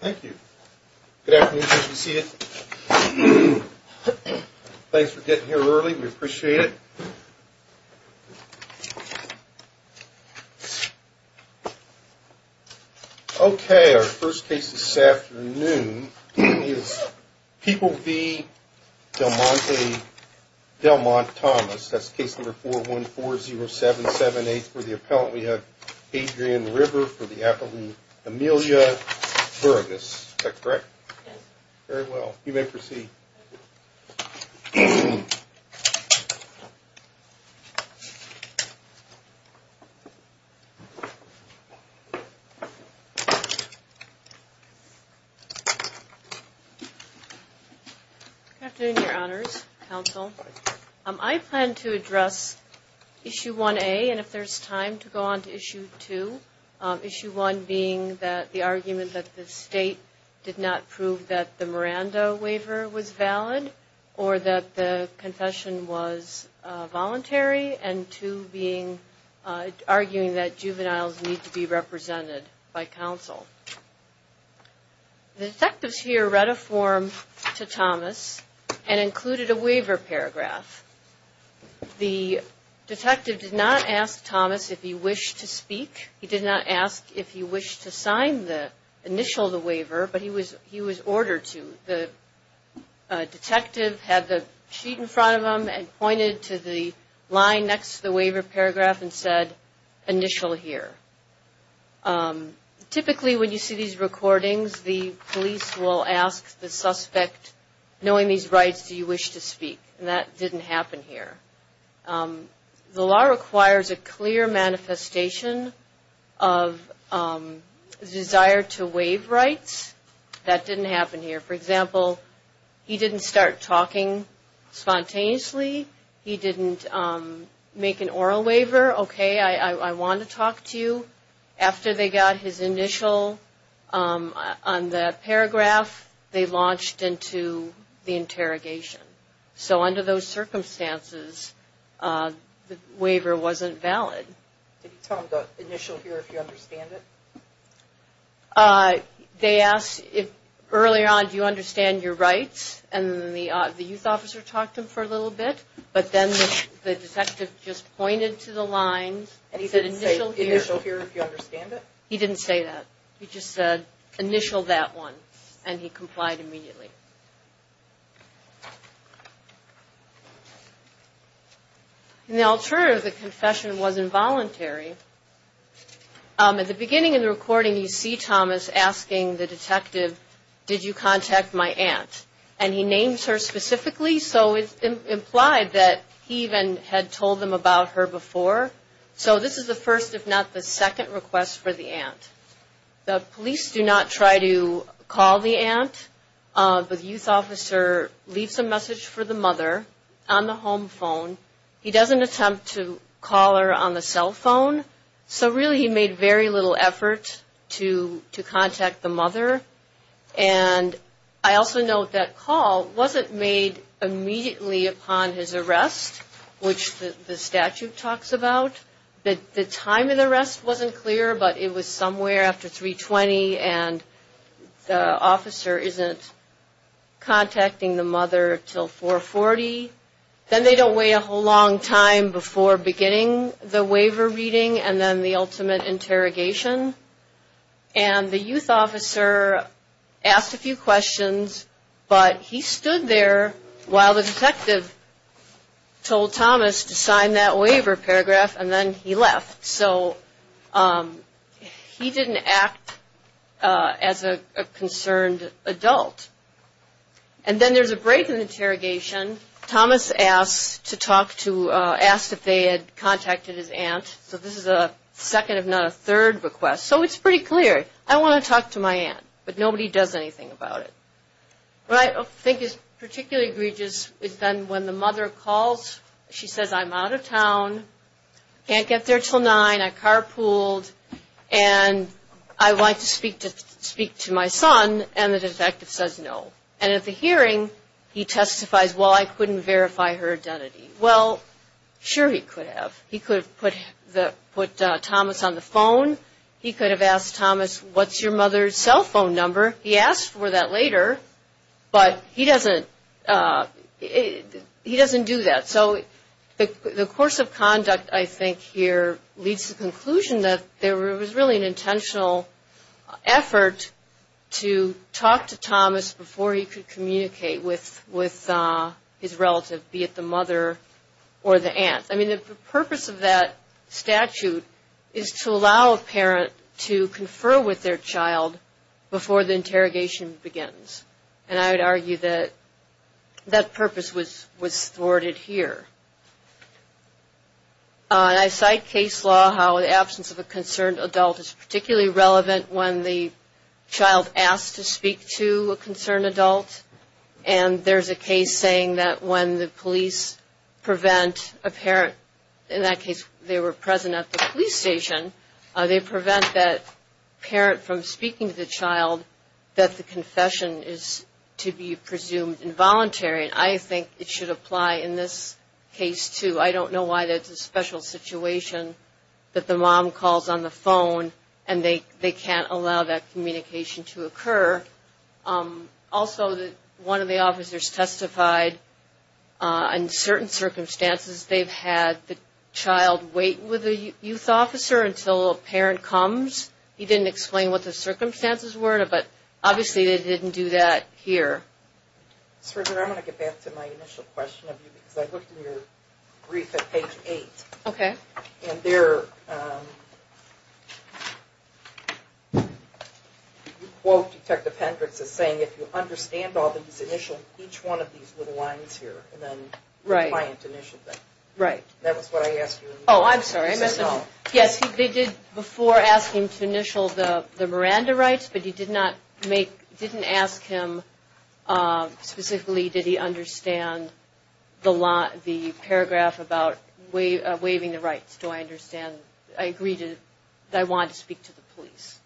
Thank you. Good afternoon. Nice to see you. Thanks for getting here early. We appreciate it. Okay. Our first case this afternoon is People v. Del Monte Thomas. That's case number 4140778. For the appellant we have Adrienne River for the appellant Amelia Burgess. Is that correct? Yes. Very well. You may proceed. Good afternoon, Your Honors. Counsel. I plan to address Issue 1A and if there's time to go on to Issue 2. Issue 1 being the argument that the state did not prove that the Miranda waiver was valid or that the confession was voluntary and 2 being arguing that juveniles need to be represented by counsel. The detectives here read a form to Thomas and included a waiver paragraph. The detective did not ask Thomas if he wished to speak. He did not ask if he wished to sign the initial of the waiver, but he was ordered to. The detective had the sheet in front of him and pointed to the line next to the waiver paragraph and said, initial here. Typically when you see these recordings, the police will ask the suspect, knowing these rights, do you wish to speak? That didn't happen here. The law requires a clear manifestation of desire to waive rights. That didn't happen here. For example, he didn't start talking spontaneously. He didn't make an oral waiver. Okay, I want to talk to you. After they got his initial on the paragraph, they launched into the interrogation. So under those circumstances, the waiver wasn't valid. Did he tell them the initial here if you understand it? They asked if early on do you understand your rights and the youth officer talked to him for a little bit, but then the detective just pointed to the line and he said initial here. He didn't say initial here if you understand it? He didn't say that. He just said initial that one and he complied immediately. The alternative of the confession was involuntary. At the beginning of the recording, you see Thomas asking the detective, did you contact my aunt? And he names her specifically, so it's implied that he even had told them about her before. So this is the first, if not the second, request for the aunt. The police do not try to call the aunt, but the youth officer leaves a message for the mother on the home phone. He doesn't attempt to call her on the cell phone, so really he made very little effort to contact the mother. And I also note that call wasn't made immediately upon his arrest, which the statute talks about. The time of the arrest wasn't clear, but it was somewhere after 3.20 and the officer isn't contacting the mother until 4.40. Then they don't wait a whole long time before beginning the waiver reading and then the ultimate interrogation. And the youth officer asked a few questions, but he stood there while the detective told Thomas to sign that waiver paragraph and then he left. So he didn't act as a concerned adult. And then there's a break in the interrogation. Thomas asked if they had contacted his aunt, so this is a second, if not a third, request. So it's pretty clear. I want to talk to my aunt, but nobody does anything about it. What I think is particularly egregious is then when the mother calls, she says, I'm out of town, can't get there until 9, I carpooled, and I want to speak to my son, and the detective says no. And at the hearing, he testifies, well, I couldn't verify her identity. Well, sure he could have. He could have put Thomas on the phone. He could have asked Thomas, what's your mother's cell phone number? He asked for that later, but he doesn't do that. So the course of conduct, I think, here leads to the conclusion that there was really an intentional effort to talk to Thomas before he could communicate with his relative, be it the mother or the aunt. I mean, the purpose of that statute is to allow a parent to confer with their child before the interrogation begins. And I would argue that that purpose was thwarted here. I cite case law how the absence of a concerned adult is particularly relevant when the child asks to speak to a concerned adult. And there's a case saying that when the police prevent a parent, in that case they were present at the police station, they prevent that parent from speaking to the child, that the confession is to be presumed involuntary. And I think it should apply in this case, too. I don't know why that's a special situation that the mom calls on the phone and they can't allow that communication to occur. Also, one of the officers testified in certain circumstances they've had the child wait with the youth officer until a parent comes. He didn't explain what the circumstances were, but obviously they didn't do that here. Sergeant, I'm going to get back to my initial question of you because I looked in your brief at page 8. Okay. And there you quote Detective Hendricks as saying, if you understand all these initials, each one of these little lines here, and then the client initiated them. Right. That was what I asked you. Oh, I'm sorry. Yes, they did before ask him to initial the Miranda rights, but he didn't ask him specifically, did he understand the paragraph about waiving the rights. Do I understand? I agree that I wanted to speak to the police.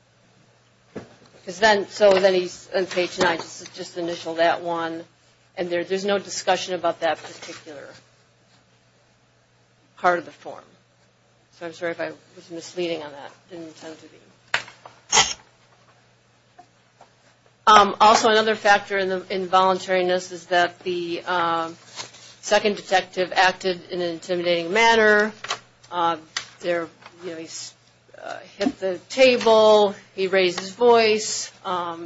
So then he's on page 9, just initial that one. And there's no discussion about that particular part of the form. So I'm sorry if I was misleading on that. Didn't intend to be. Also, another factor in the involuntariness is that the second detective acted in an intimidating manner. You know, he hit the table, he raised his voice.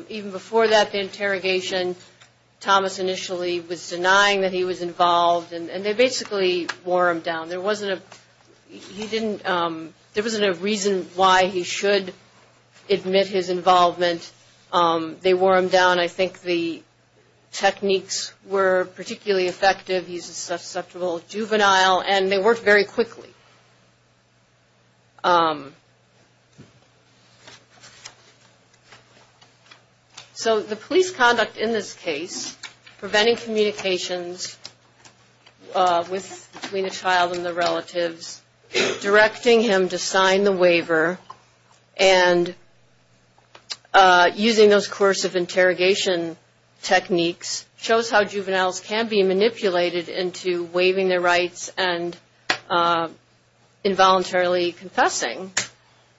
Even before that interrogation, Thomas initially was denying that he was involved, and they basically wore him down. There wasn't a reason why he should admit his involvement. They wore him down. I think the techniques were particularly effective. He's a susceptible juvenile, and they worked very quickly. So the police conduct in this case, preventing communications between the child and the relatives, directing him to sign the waiver, and using those coercive interrogation techniques, shows how juveniles can be manipulated into waiving their rights and involuntarily confessing.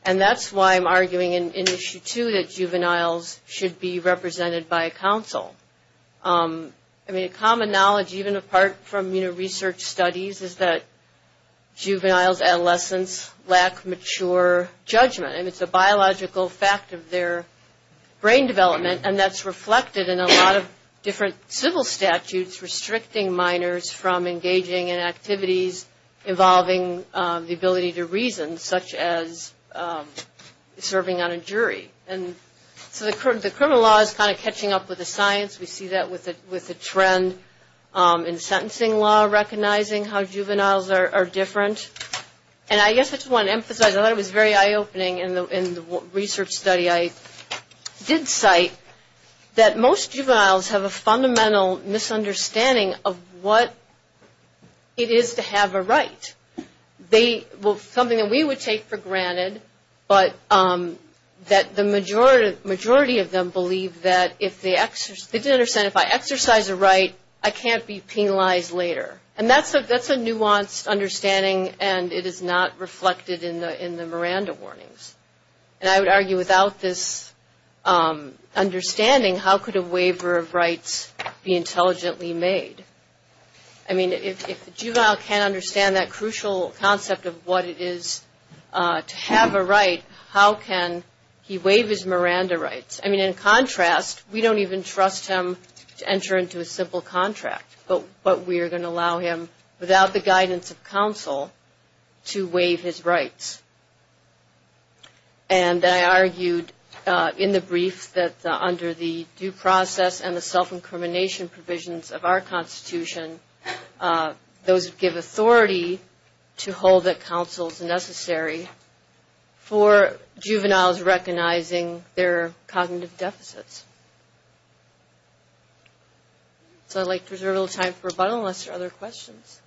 And that's why I'm arguing in Issue 2 that juveniles should be represented by a counsel. I mean, a common knowledge, even apart from, you know, research studies, is that juveniles, adolescents, lack mature judgment. And it's a biological fact of their brain development, and that's reflected in a lot of different civil statutes restricting minors from engaging in activities involving the ability to reason, such as serving on a jury. And so the criminal law is kind of catching up with the science. We see that with the trend in sentencing law, recognizing how juveniles are different. And I guess I just want to emphasize, I thought it was very eye-opening in the research study I did cite, that most juveniles have a fundamental misunderstanding of what it is to have a right. Something that we would take for granted, but that the majority of them believe that if they exercise a right, I can't be penalized later. And that's a nuanced understanding, and it is not reflected in the Miranda warnings. And I would argue without this understanding, how could a waiver of rights be intelligently made? I mean, if a juvenile can't understand that crucial concept of what it is to have a right, how can he waive his Miranda rights? I mean, in contrast, we don't even trust him to enter into a simple contract, but we are going to allow him, without the guidance of counsel, to waive his rights. And I argued in the brief that under the due process and the self-incrimination provisions of our Constitution, those give authority to hold that counsel is necessary for juveniles recognizing their cognitive deficits. So I'd like to reserve a little time for rebuttal unless there are other questions.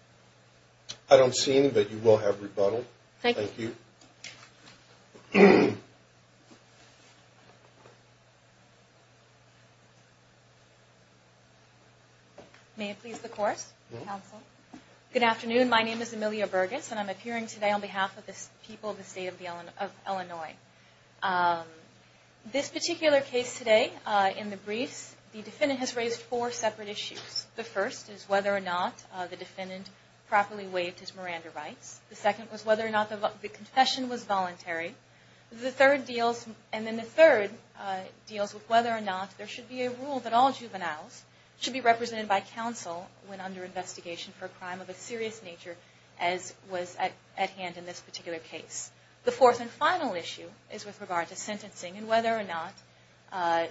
I don't see any, but you will have rebuttal. Thank you. Thank you. May it please the Court, Counsel. Good afternoon. My name is Amelia Burgess, and I'm appearing today on behalf of the people of the State of Illinois. This particular case today, in the briefs, the defendant has raised four separate issues. The first is whether or not the defendant properly waived his Miranda rights. The second was whether or not the confession was voluntary. The third deals with whether or not there should be a rule that all juveniles should be represented by counsel when under investigation for a crime of a serious nature as was at hand in this particular case. The fourth and final issue is with regard to sentencing and whether or not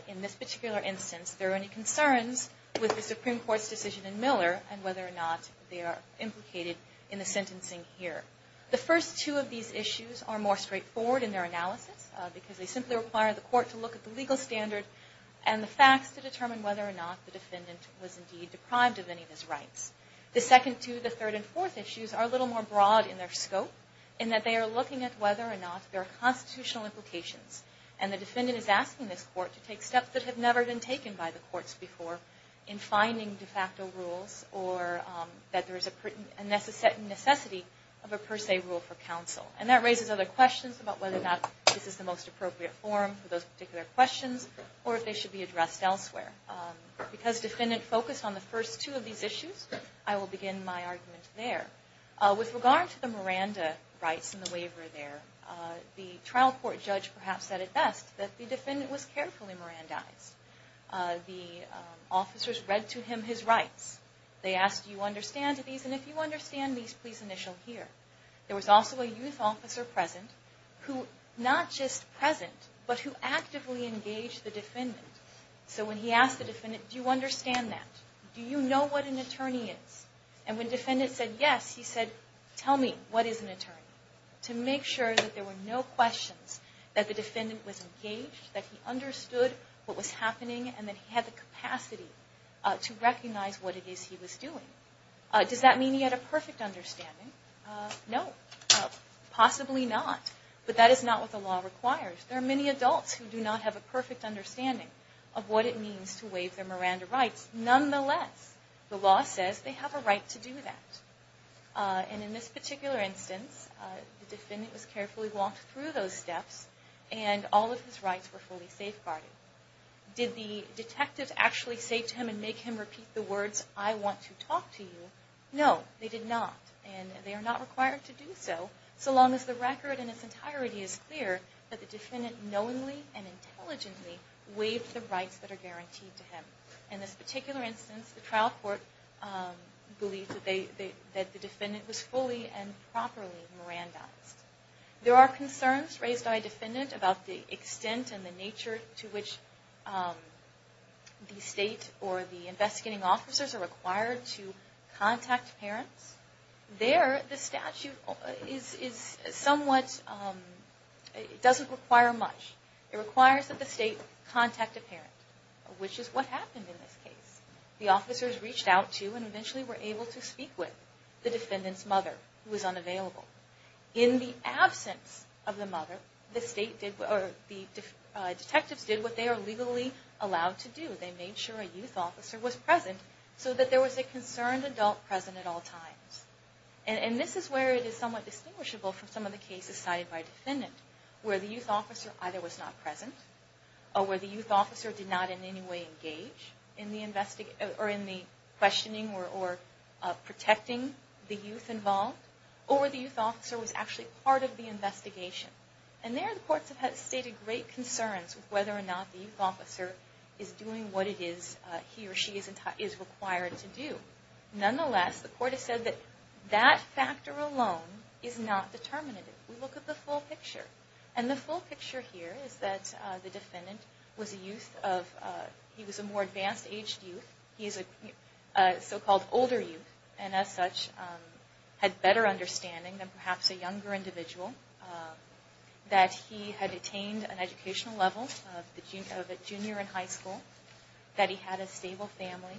in this particular instance there are any concerns with the Supreme Court's decision in Miller and whether or not they are implicated in the sentencing here. The first two of these issues are more straightforward in their analysis because they simply require the Court to look at the legal standard and the facts to determine whether or not the defendant was indeed deprived of any of his rights. The second, two, the third, and fourth issues are a little more broad in their scope in that they are looking at whether or not there are constitutional implications and the defendant is asking this Court to take steps that have never been taken by the courts before in finding de facto rules or that there is a necessity of a per se rule for counsel. And that raises other questions about whether or not this is the most appropriate forum for those particular questions or if they should be addressed elsewhere. Because defendant focused on the first two of these issues, I will begin my argument there. With regard to the Miranda rights and the waiver there, the trial court judge perhaps said it best that the defendant was carefully Mirandized. The officers read to him his rights. They asked, do you understand these? And if you understand these, please initial here. There was also a youth officer present who, not just present, but who actively engaged the defendant. So when he asked the defendant, do you understand that? Do you know what an attorney is? And when the defendant said yes, he said, tell me, what is an attorney? To make sure that there were no questions, that the defendant was engaged, that he understood what was happening, and that he had the capacity to recognize what it is he was doing. Does that mean he had a perfect understanding? No, possibly not. But that is not what the law requires. There are many adults who do not have a perfect understanding of what it means to waive their Miranda rights. Nonetheless, the law says they have a right to do that. And in this particular instance, the defendant was carefully walked through those steps, and all of his rights were fully safeguarded. Did the detective actually say to him and make him repeat the words, I want to talk to you? No, they did not. And they are not required to do so, so long as the record in its entirety is clear that the defendant knowingly and intelligently waived the rights that are guaranteed to him. In this particular instance, the trial court believes that the defendant was fully and properly Mirandized. There are concerns raised by a defendant about the extent and the nature to which the state or the investigating officers are required to contact parents. There, the statute is somewhat, it doesn't require much. It requires that the state contact a parent, which is what happened in this case. The officers reached out to and eventually were able to speak with the defendant's mother, who was unavailable. In the absence of the mother, the detectives did what they are legally allowed to do. They made sure a youth officer was present so that there was a concerned adult present at all times. And this is where it is somewhat distinguishable from some of the cases cited by a defendant, where the youth officer either was not present, or where the youth officer did not in any way engage in the questioning or protecting the youth involved, or where the youth officer was actually part of the investigation. And there, the courts have stated great concerns with whether or not the youth officer is doing what he or she is required to do. Nonetheless, the court has said that that factor alone is not determinative. We look at the full picture. And the full picture here is that the defendant was a youth of, he was a more advanced aged youth. He is a so-called older youth, and as such, had better understanding than perhaps a younger individual. That he had attained an educational level of a junior in high school. That he had a stable family.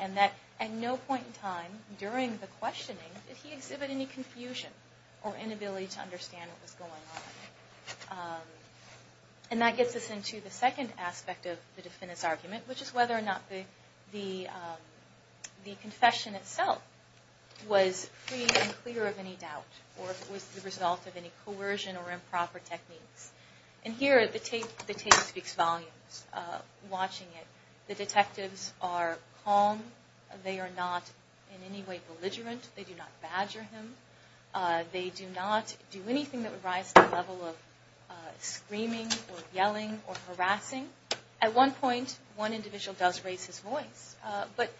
And that at no point in time during the questioning did he exhibit any confusion or inability to understand what was going on. And that gets us into the second aspect of the defendant's argument, which is whether or not the confession itself was free and clear of any doubt, or if it was the result of any coercion or improper techniques. And here, the tape speaks volumes. Watching it, the detectives are calm. They are not in any way belligerent. They do not badger him. They do not do anything that would rise to the level of screaming or yelling or harassing. At one point, one individual does raise his voice. But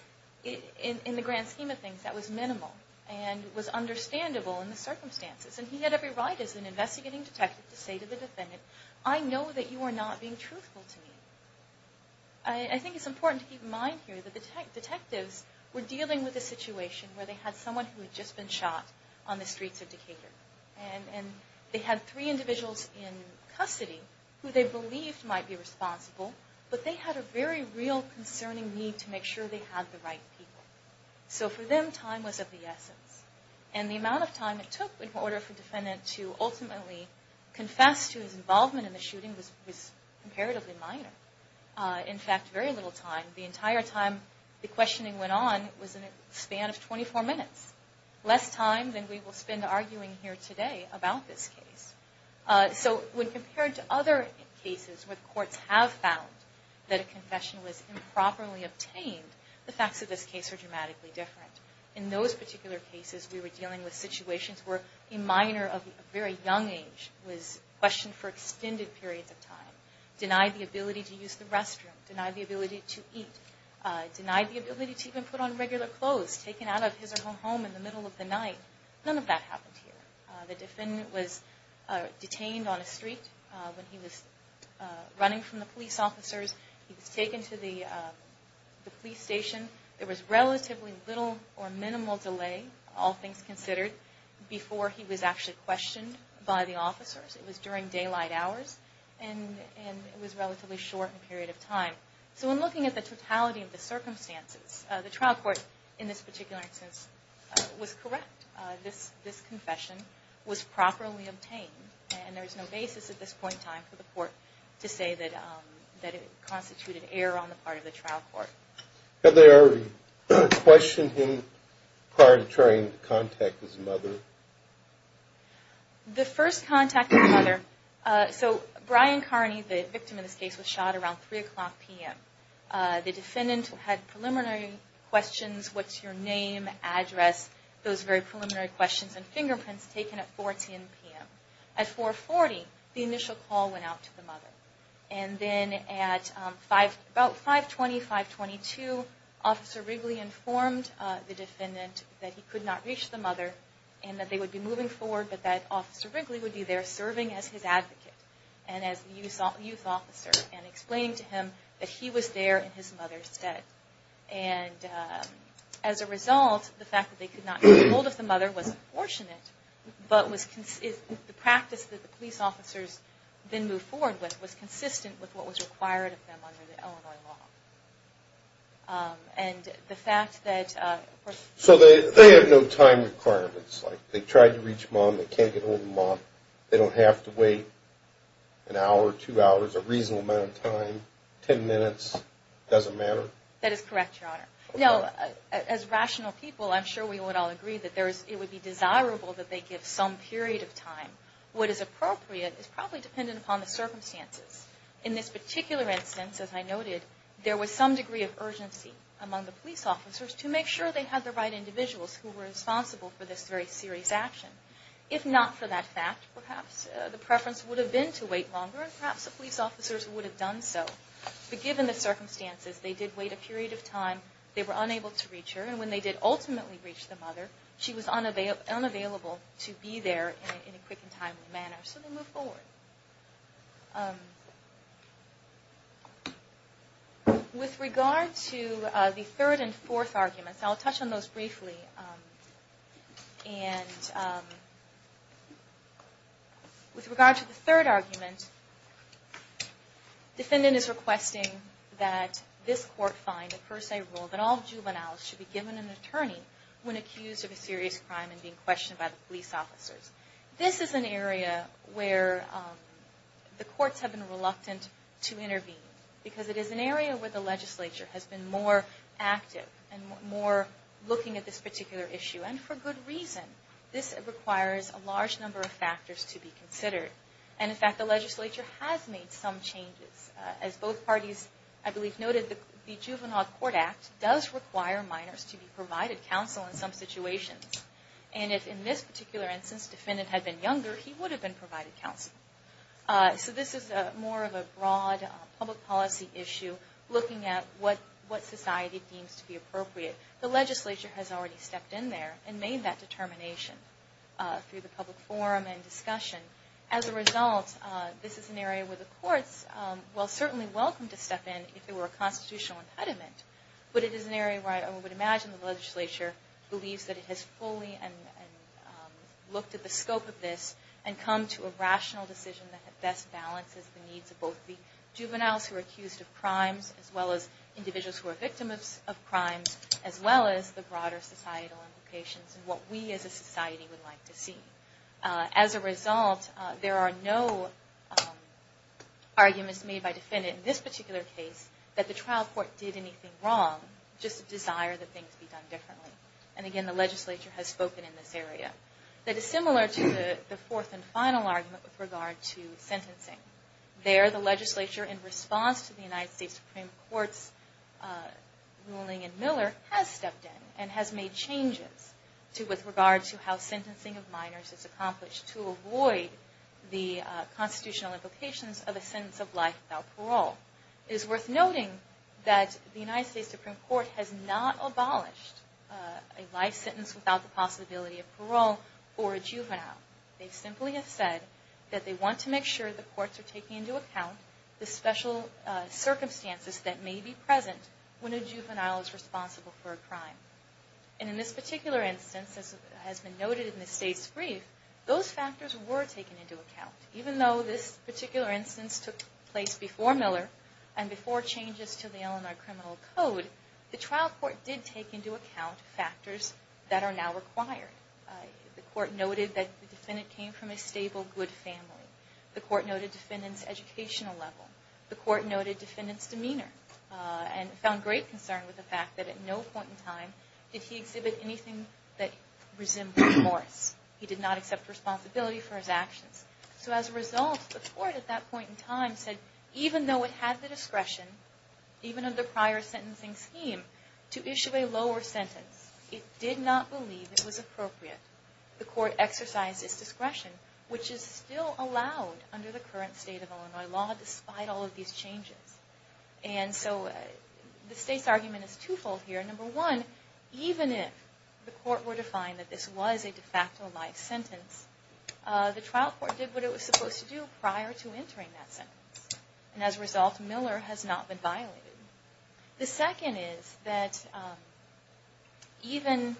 in the grand scheme of things, that was minimal. And was understandable in the circumstances. And he had every right as an investigating detective to say to the defendant, I know that you are not being truthful to me. I think it's important to keep in mind here that the detectives were dealing with a situation where they had someone who had just been shot on the streets of Decatur. And they had three individuals in custody who they believed might be responsible, but they had a very real concerning need to make sure they had the right people. So for them, time was of the essence. And the amount of time it took in order for the defendant to ultimately confess to his involvement in the shooting was comparatively minor. In fact, very little time. The entire time the questioning went on was in a span of 24 minutes. Less time than we will spend arguing here today about this case. So when compared to other cases where the courts have found that a confession was improperly obtained, the facts of this case are dramatically different. In those particular cases, we were dealing with situations where a minor of a very young age was questioned for extended periods of time, denied the ability to use the restroom, denied the ability to eat, denied the ability to even put on regular clothes, taken out of his or her home in the middle of the night. None of that happened here. The defendant was detained on a street when he was running from the police officers. He was taken to the police station. There was relatively little or minimal delay, all things considered, before he was actually questioned by the officers. It was during daylight hours, and it was a relatively short period of time. So when looking at the totality of the circumstances, the trial court in this particular instance was correct. This confession was properly obtained, and there is no basis at this point in time for the court to say that it constituted error on the part of the trial court. Have they ever questioned him prior to trying to contact his mother? The first contact with his mother, so Brian Carney, the victim in this case, was shot around 3 o'clock p.m. The defendant had preliminary questions, what's your name, address, those very preliminary questions and fingerprints taken at 14 p.m. At 4.40, the initial call went out to the mother. And then at about 5.20, 5.22, Officer Wrigley informed the defendant that he could not reach the mother and that they would be moving forward, but that Officer Wrigley would be there serving as his advocate and as the youth officer and explaining to him that he was there in his mother's stead. And as a result, the fact that they could not get ahold of the mother was unfortunate, but the practice that the police officers then moved forward with was consistent with what was required of them under the Illinois law. And the fact that... So they have no time requirements, like they tried to reach mom, they can't get ahold of mom, they don't have to wait an hour, two hours, a reasonable amount of time, ten minutes, doesn't matter? That is correct, Your Honor. No, as rational people, I'm sure we would all agree that it would be desirable that they give some period of time. What is appropriate is probably dependent upon the circumstances. In this particular instance, as I noted, there was some degree of urgency among the police officers to make sure they had the right individuals who were responsible for this very serious action. If not for that fact, perhaps the preference would have been to wait longer, and perhaps the police officers would have done so. But given the circumstances, they did wait a period of time. They were unable to reach her, and when they did ultimately reach the mother, she was unavailable to be there in a quick and timely manner, so they moved forward. With regard to the third and fourth arguments, I'll touch on those briefly. With regard to the third argument, the defendant is requesting that this court find a per se rule that all juveniles should be given an attorney when accused of a serious crime and being questioned by the police officers. This is an area where the courts have been reluctant to intervene, because it is an area where the legislature has been more active, and more looking at this particular issue, and for good reason. This requires a large number of factors to be considered. In fact, the legislature has made some changes. As both parties, I believe, noted, the Juvenile Court Act does require minors to be provided counsel in some situations. If, in this particular instance, the defendant had been younger, he would have been provided counsel. This is more of a broad public policy issue, looking at what society deems to be appropriate. The legislature has already stepped in there and made that determination through the public forum and discussion. As a result, this is an area where the courts are certainly welcome to step in if there were a constitutional impediment, but it is an area where I would imagine the legislature believes that it has fully looked at the scope of this and come to a rational decision that best balances the needs of both the juveniles who are accused of crimes, as well as individuals who are victims of crimes, as well as the broader societal implications and what we as a society would like to see. As a result, there are no arguments made by defendants in this particular case that the trial court did anything wrong, just a desire that things be done differently. Again, the legislature has spoken in this area. That is similar to the fourth and final argument with regard to sentencing. There, the legislature, in response to the United States Supreme Court's ruling in Miller, has stepped in and has made changes with regard to how sentencing of minors is accomplished to avoid the constitutional implications of a sentence of life without parole. It is worth noting that the United States Supreme Court has not abolished a life sentence without the possibility of parole for a juvenile. They simply have said that they want to make sure the courts are taking into account the special circumstances that may be present when a juvenile is responsible for a crime. In this particular instance, as has been noted in the state's brief, those factors were taken into account. Even though this particular instance took place before Miller and before changes to the Illinois Criminal Code, the trial court did take into account factors that are now required. The court noted that the defendant came from a stable, good family. The court noted the defendant's educational level. The court noted the defendant's demeanor and found great concern with the fact that at no point in time did he exhibit anything that resembled remorse. He did not accept responsibility for his actions. So as a result, the court at that point in time said even though it had the discretion, even under prior sentencing scheme, to issue a lower sentence, it did not believe it was appropriate. The court exercised its discretion, which is still allowed under the current state of Illinois law despite all of these changes. And so the state's argument is twofold here. Number one, even if the court were to find that this was a de facto life sentence, the trial court did what it was supposed to do prior to entering that sentence. And as a result, Miller has not been violated. The second is that even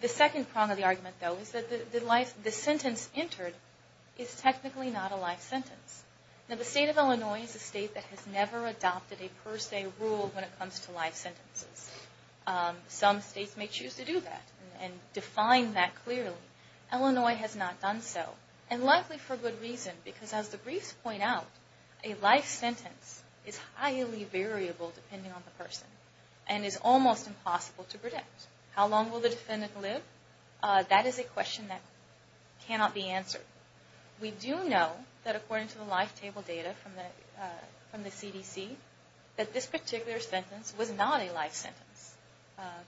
the second prong of the argument, though, is that the sentence entered is technically not a life sentence. Now the state of Illinois is a state that has never adopted a per se rule when it comes to life sentences. Some states may choose to do that and define that clearly. Illinois has not done so and likely for good reason because as the briefs point out, a life sentence is highly variable depending on the person and is almost impossible to predict. How long will the defendant live? That is a question that cannot be answered. We do know that according to the life table data from the CDC, that this particular sentence was not a life sentence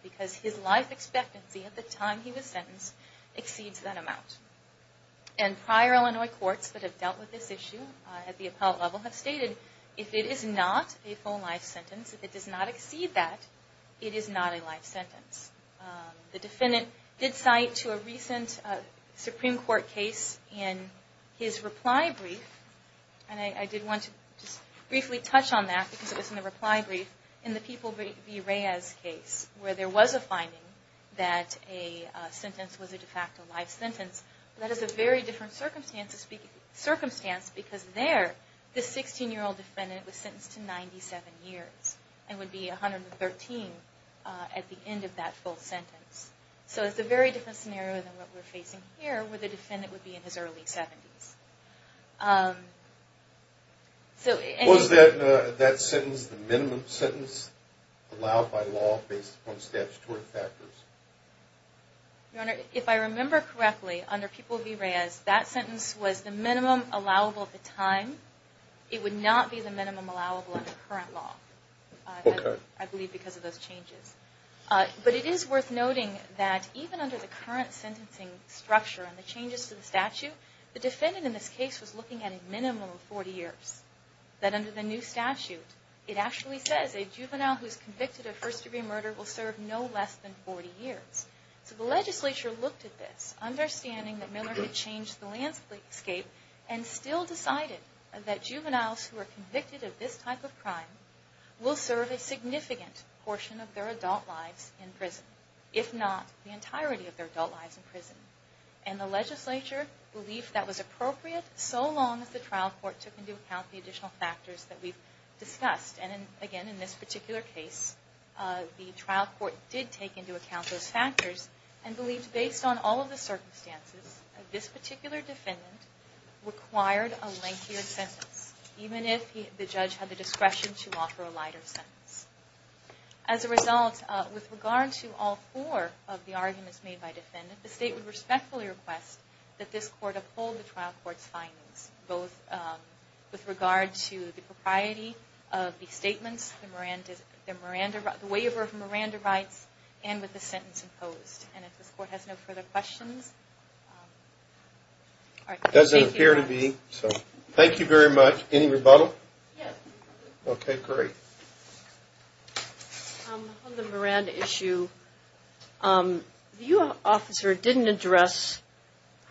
because his life expectancy at the time he was sentenced exceeds that amount. And prior Illinois courts that have dealt with this issue at the appellate level have stated if it is not a full life sentence, if it does not exceed that, it is not a life sentence. The defendant did cite to a recent Supreme Court case in his reply brief, and I did want to just briefly touch on that because it was in the reply brief, in the People v. Reyes case where there was a finding that a sentence was a de facto life sentence. That is a very different circumstance because there the 16-year-old defendant was sentenced to 97 years and would be 113 at the end of that full sentence. So it's a very different scenario than what we're facing here where the defendant would be in his early 70s. Was that sentence the minimum sentence allowed by law based upon statutory factors? Your Honor, if I remember correctly, under People v. Reyes, that sentence was the minimum allowable at the time. It would not be the minimum allowable under current law, I believe because of those changes. But it is worth noting that even under the current sentencing structure and the changes to the statute, the defendant in this case was looking at a minimum of 40 years. That under the new statute, it actually says a juvenile who is convicted of first-degree murder will serve no less than 40 years. So the legislature looked at this, understanding that Miller could change the landscape, and still decided that juveniles who are convicted of this type of crime will serve a significant portion of their adult lives in prison, if not the entirety of their adult lives in prison. And the legislature believed that was appropriate so long as the trial court took into account the additional factors that we've discussed. And again, in this particular case, the trial court did take into account those factors, and believed based on all of the circumstances, this particular defendant required a lengthier sentence, even if the judge had the discretion to offer a lighter sentence. As a result, with regard to all four of the arguments made by defendants, the state would respectfully request that this court uphold the trial court's findings, both with regard to the propriety of the statements, the waiver of Miranda rights, and with the sentence imposed. And if this court has no further questions... It doesn't appear to be, so thank you very much. Any rebuttal? Yes. Okay, great. On the Miranda issue, the U.S. officer didn't address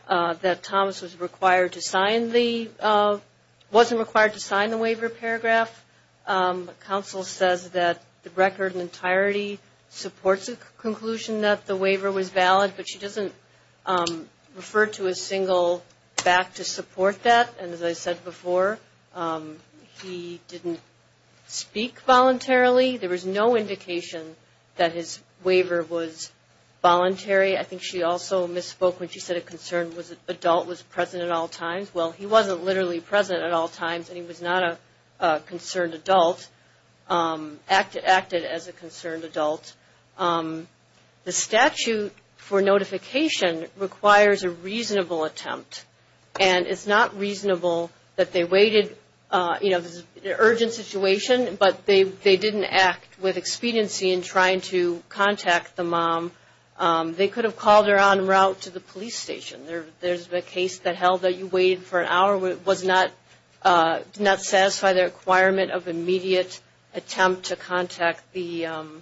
that Thomas was required to sign the waiver paragraph. The counsel says that the record in entirety supports the conclusion that the waiver was valid, but she doesn't refer to a single fact to support that. And as I said before, he didn't speak voluntarily. There was no indication that his waiver was voluntary. I think she also misspoke when she said a concerned adult was present at all times. Well, he wasn't literally present at all times, and he was not a concerned adult, acted as a concerned adult. The statute for notification requires a reasonable attempt, and it's not reasonable that they waited in an urgent situation, but they didn't act with expediency in trying to contact the mom. They could have called her en route to the police station. There's a case that held that you waited for an hour, did not satisfy the requirement of immediate attempt to contact a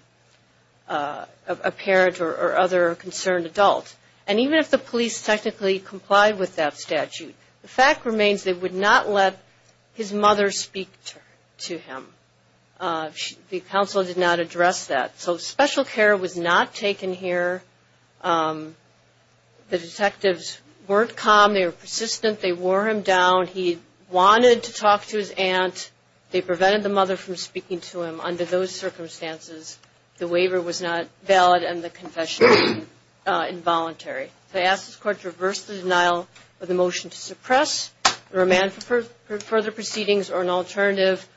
parent or other concerned adult. And even if the police technically complied with that statute, the fact remains they would not let his mother speak to him. The counsel did not address that. So special care was not taken here. The detectives weren't calm. They were persistent. They wore him down. He wanted to talk to his aunt. They prevented the mother from speaking to him. Under those circumstances, the waiver was not valid, and the confession was involuntary. So I ask this Court to reverse the denial of the motion to suppress, remand for further proceedings or an alternative,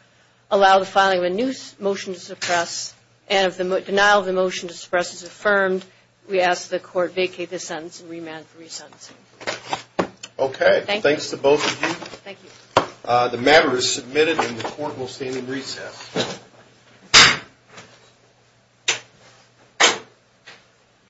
allow the filing of a new motion to suppress, and if the denial of the motion to suppress is affirmed, we ask the Court vacate the sentence and remand for re-sentencing. Okay. Thanks to both of you. Thank you. The matter is submitted, and the Court will stand in recess.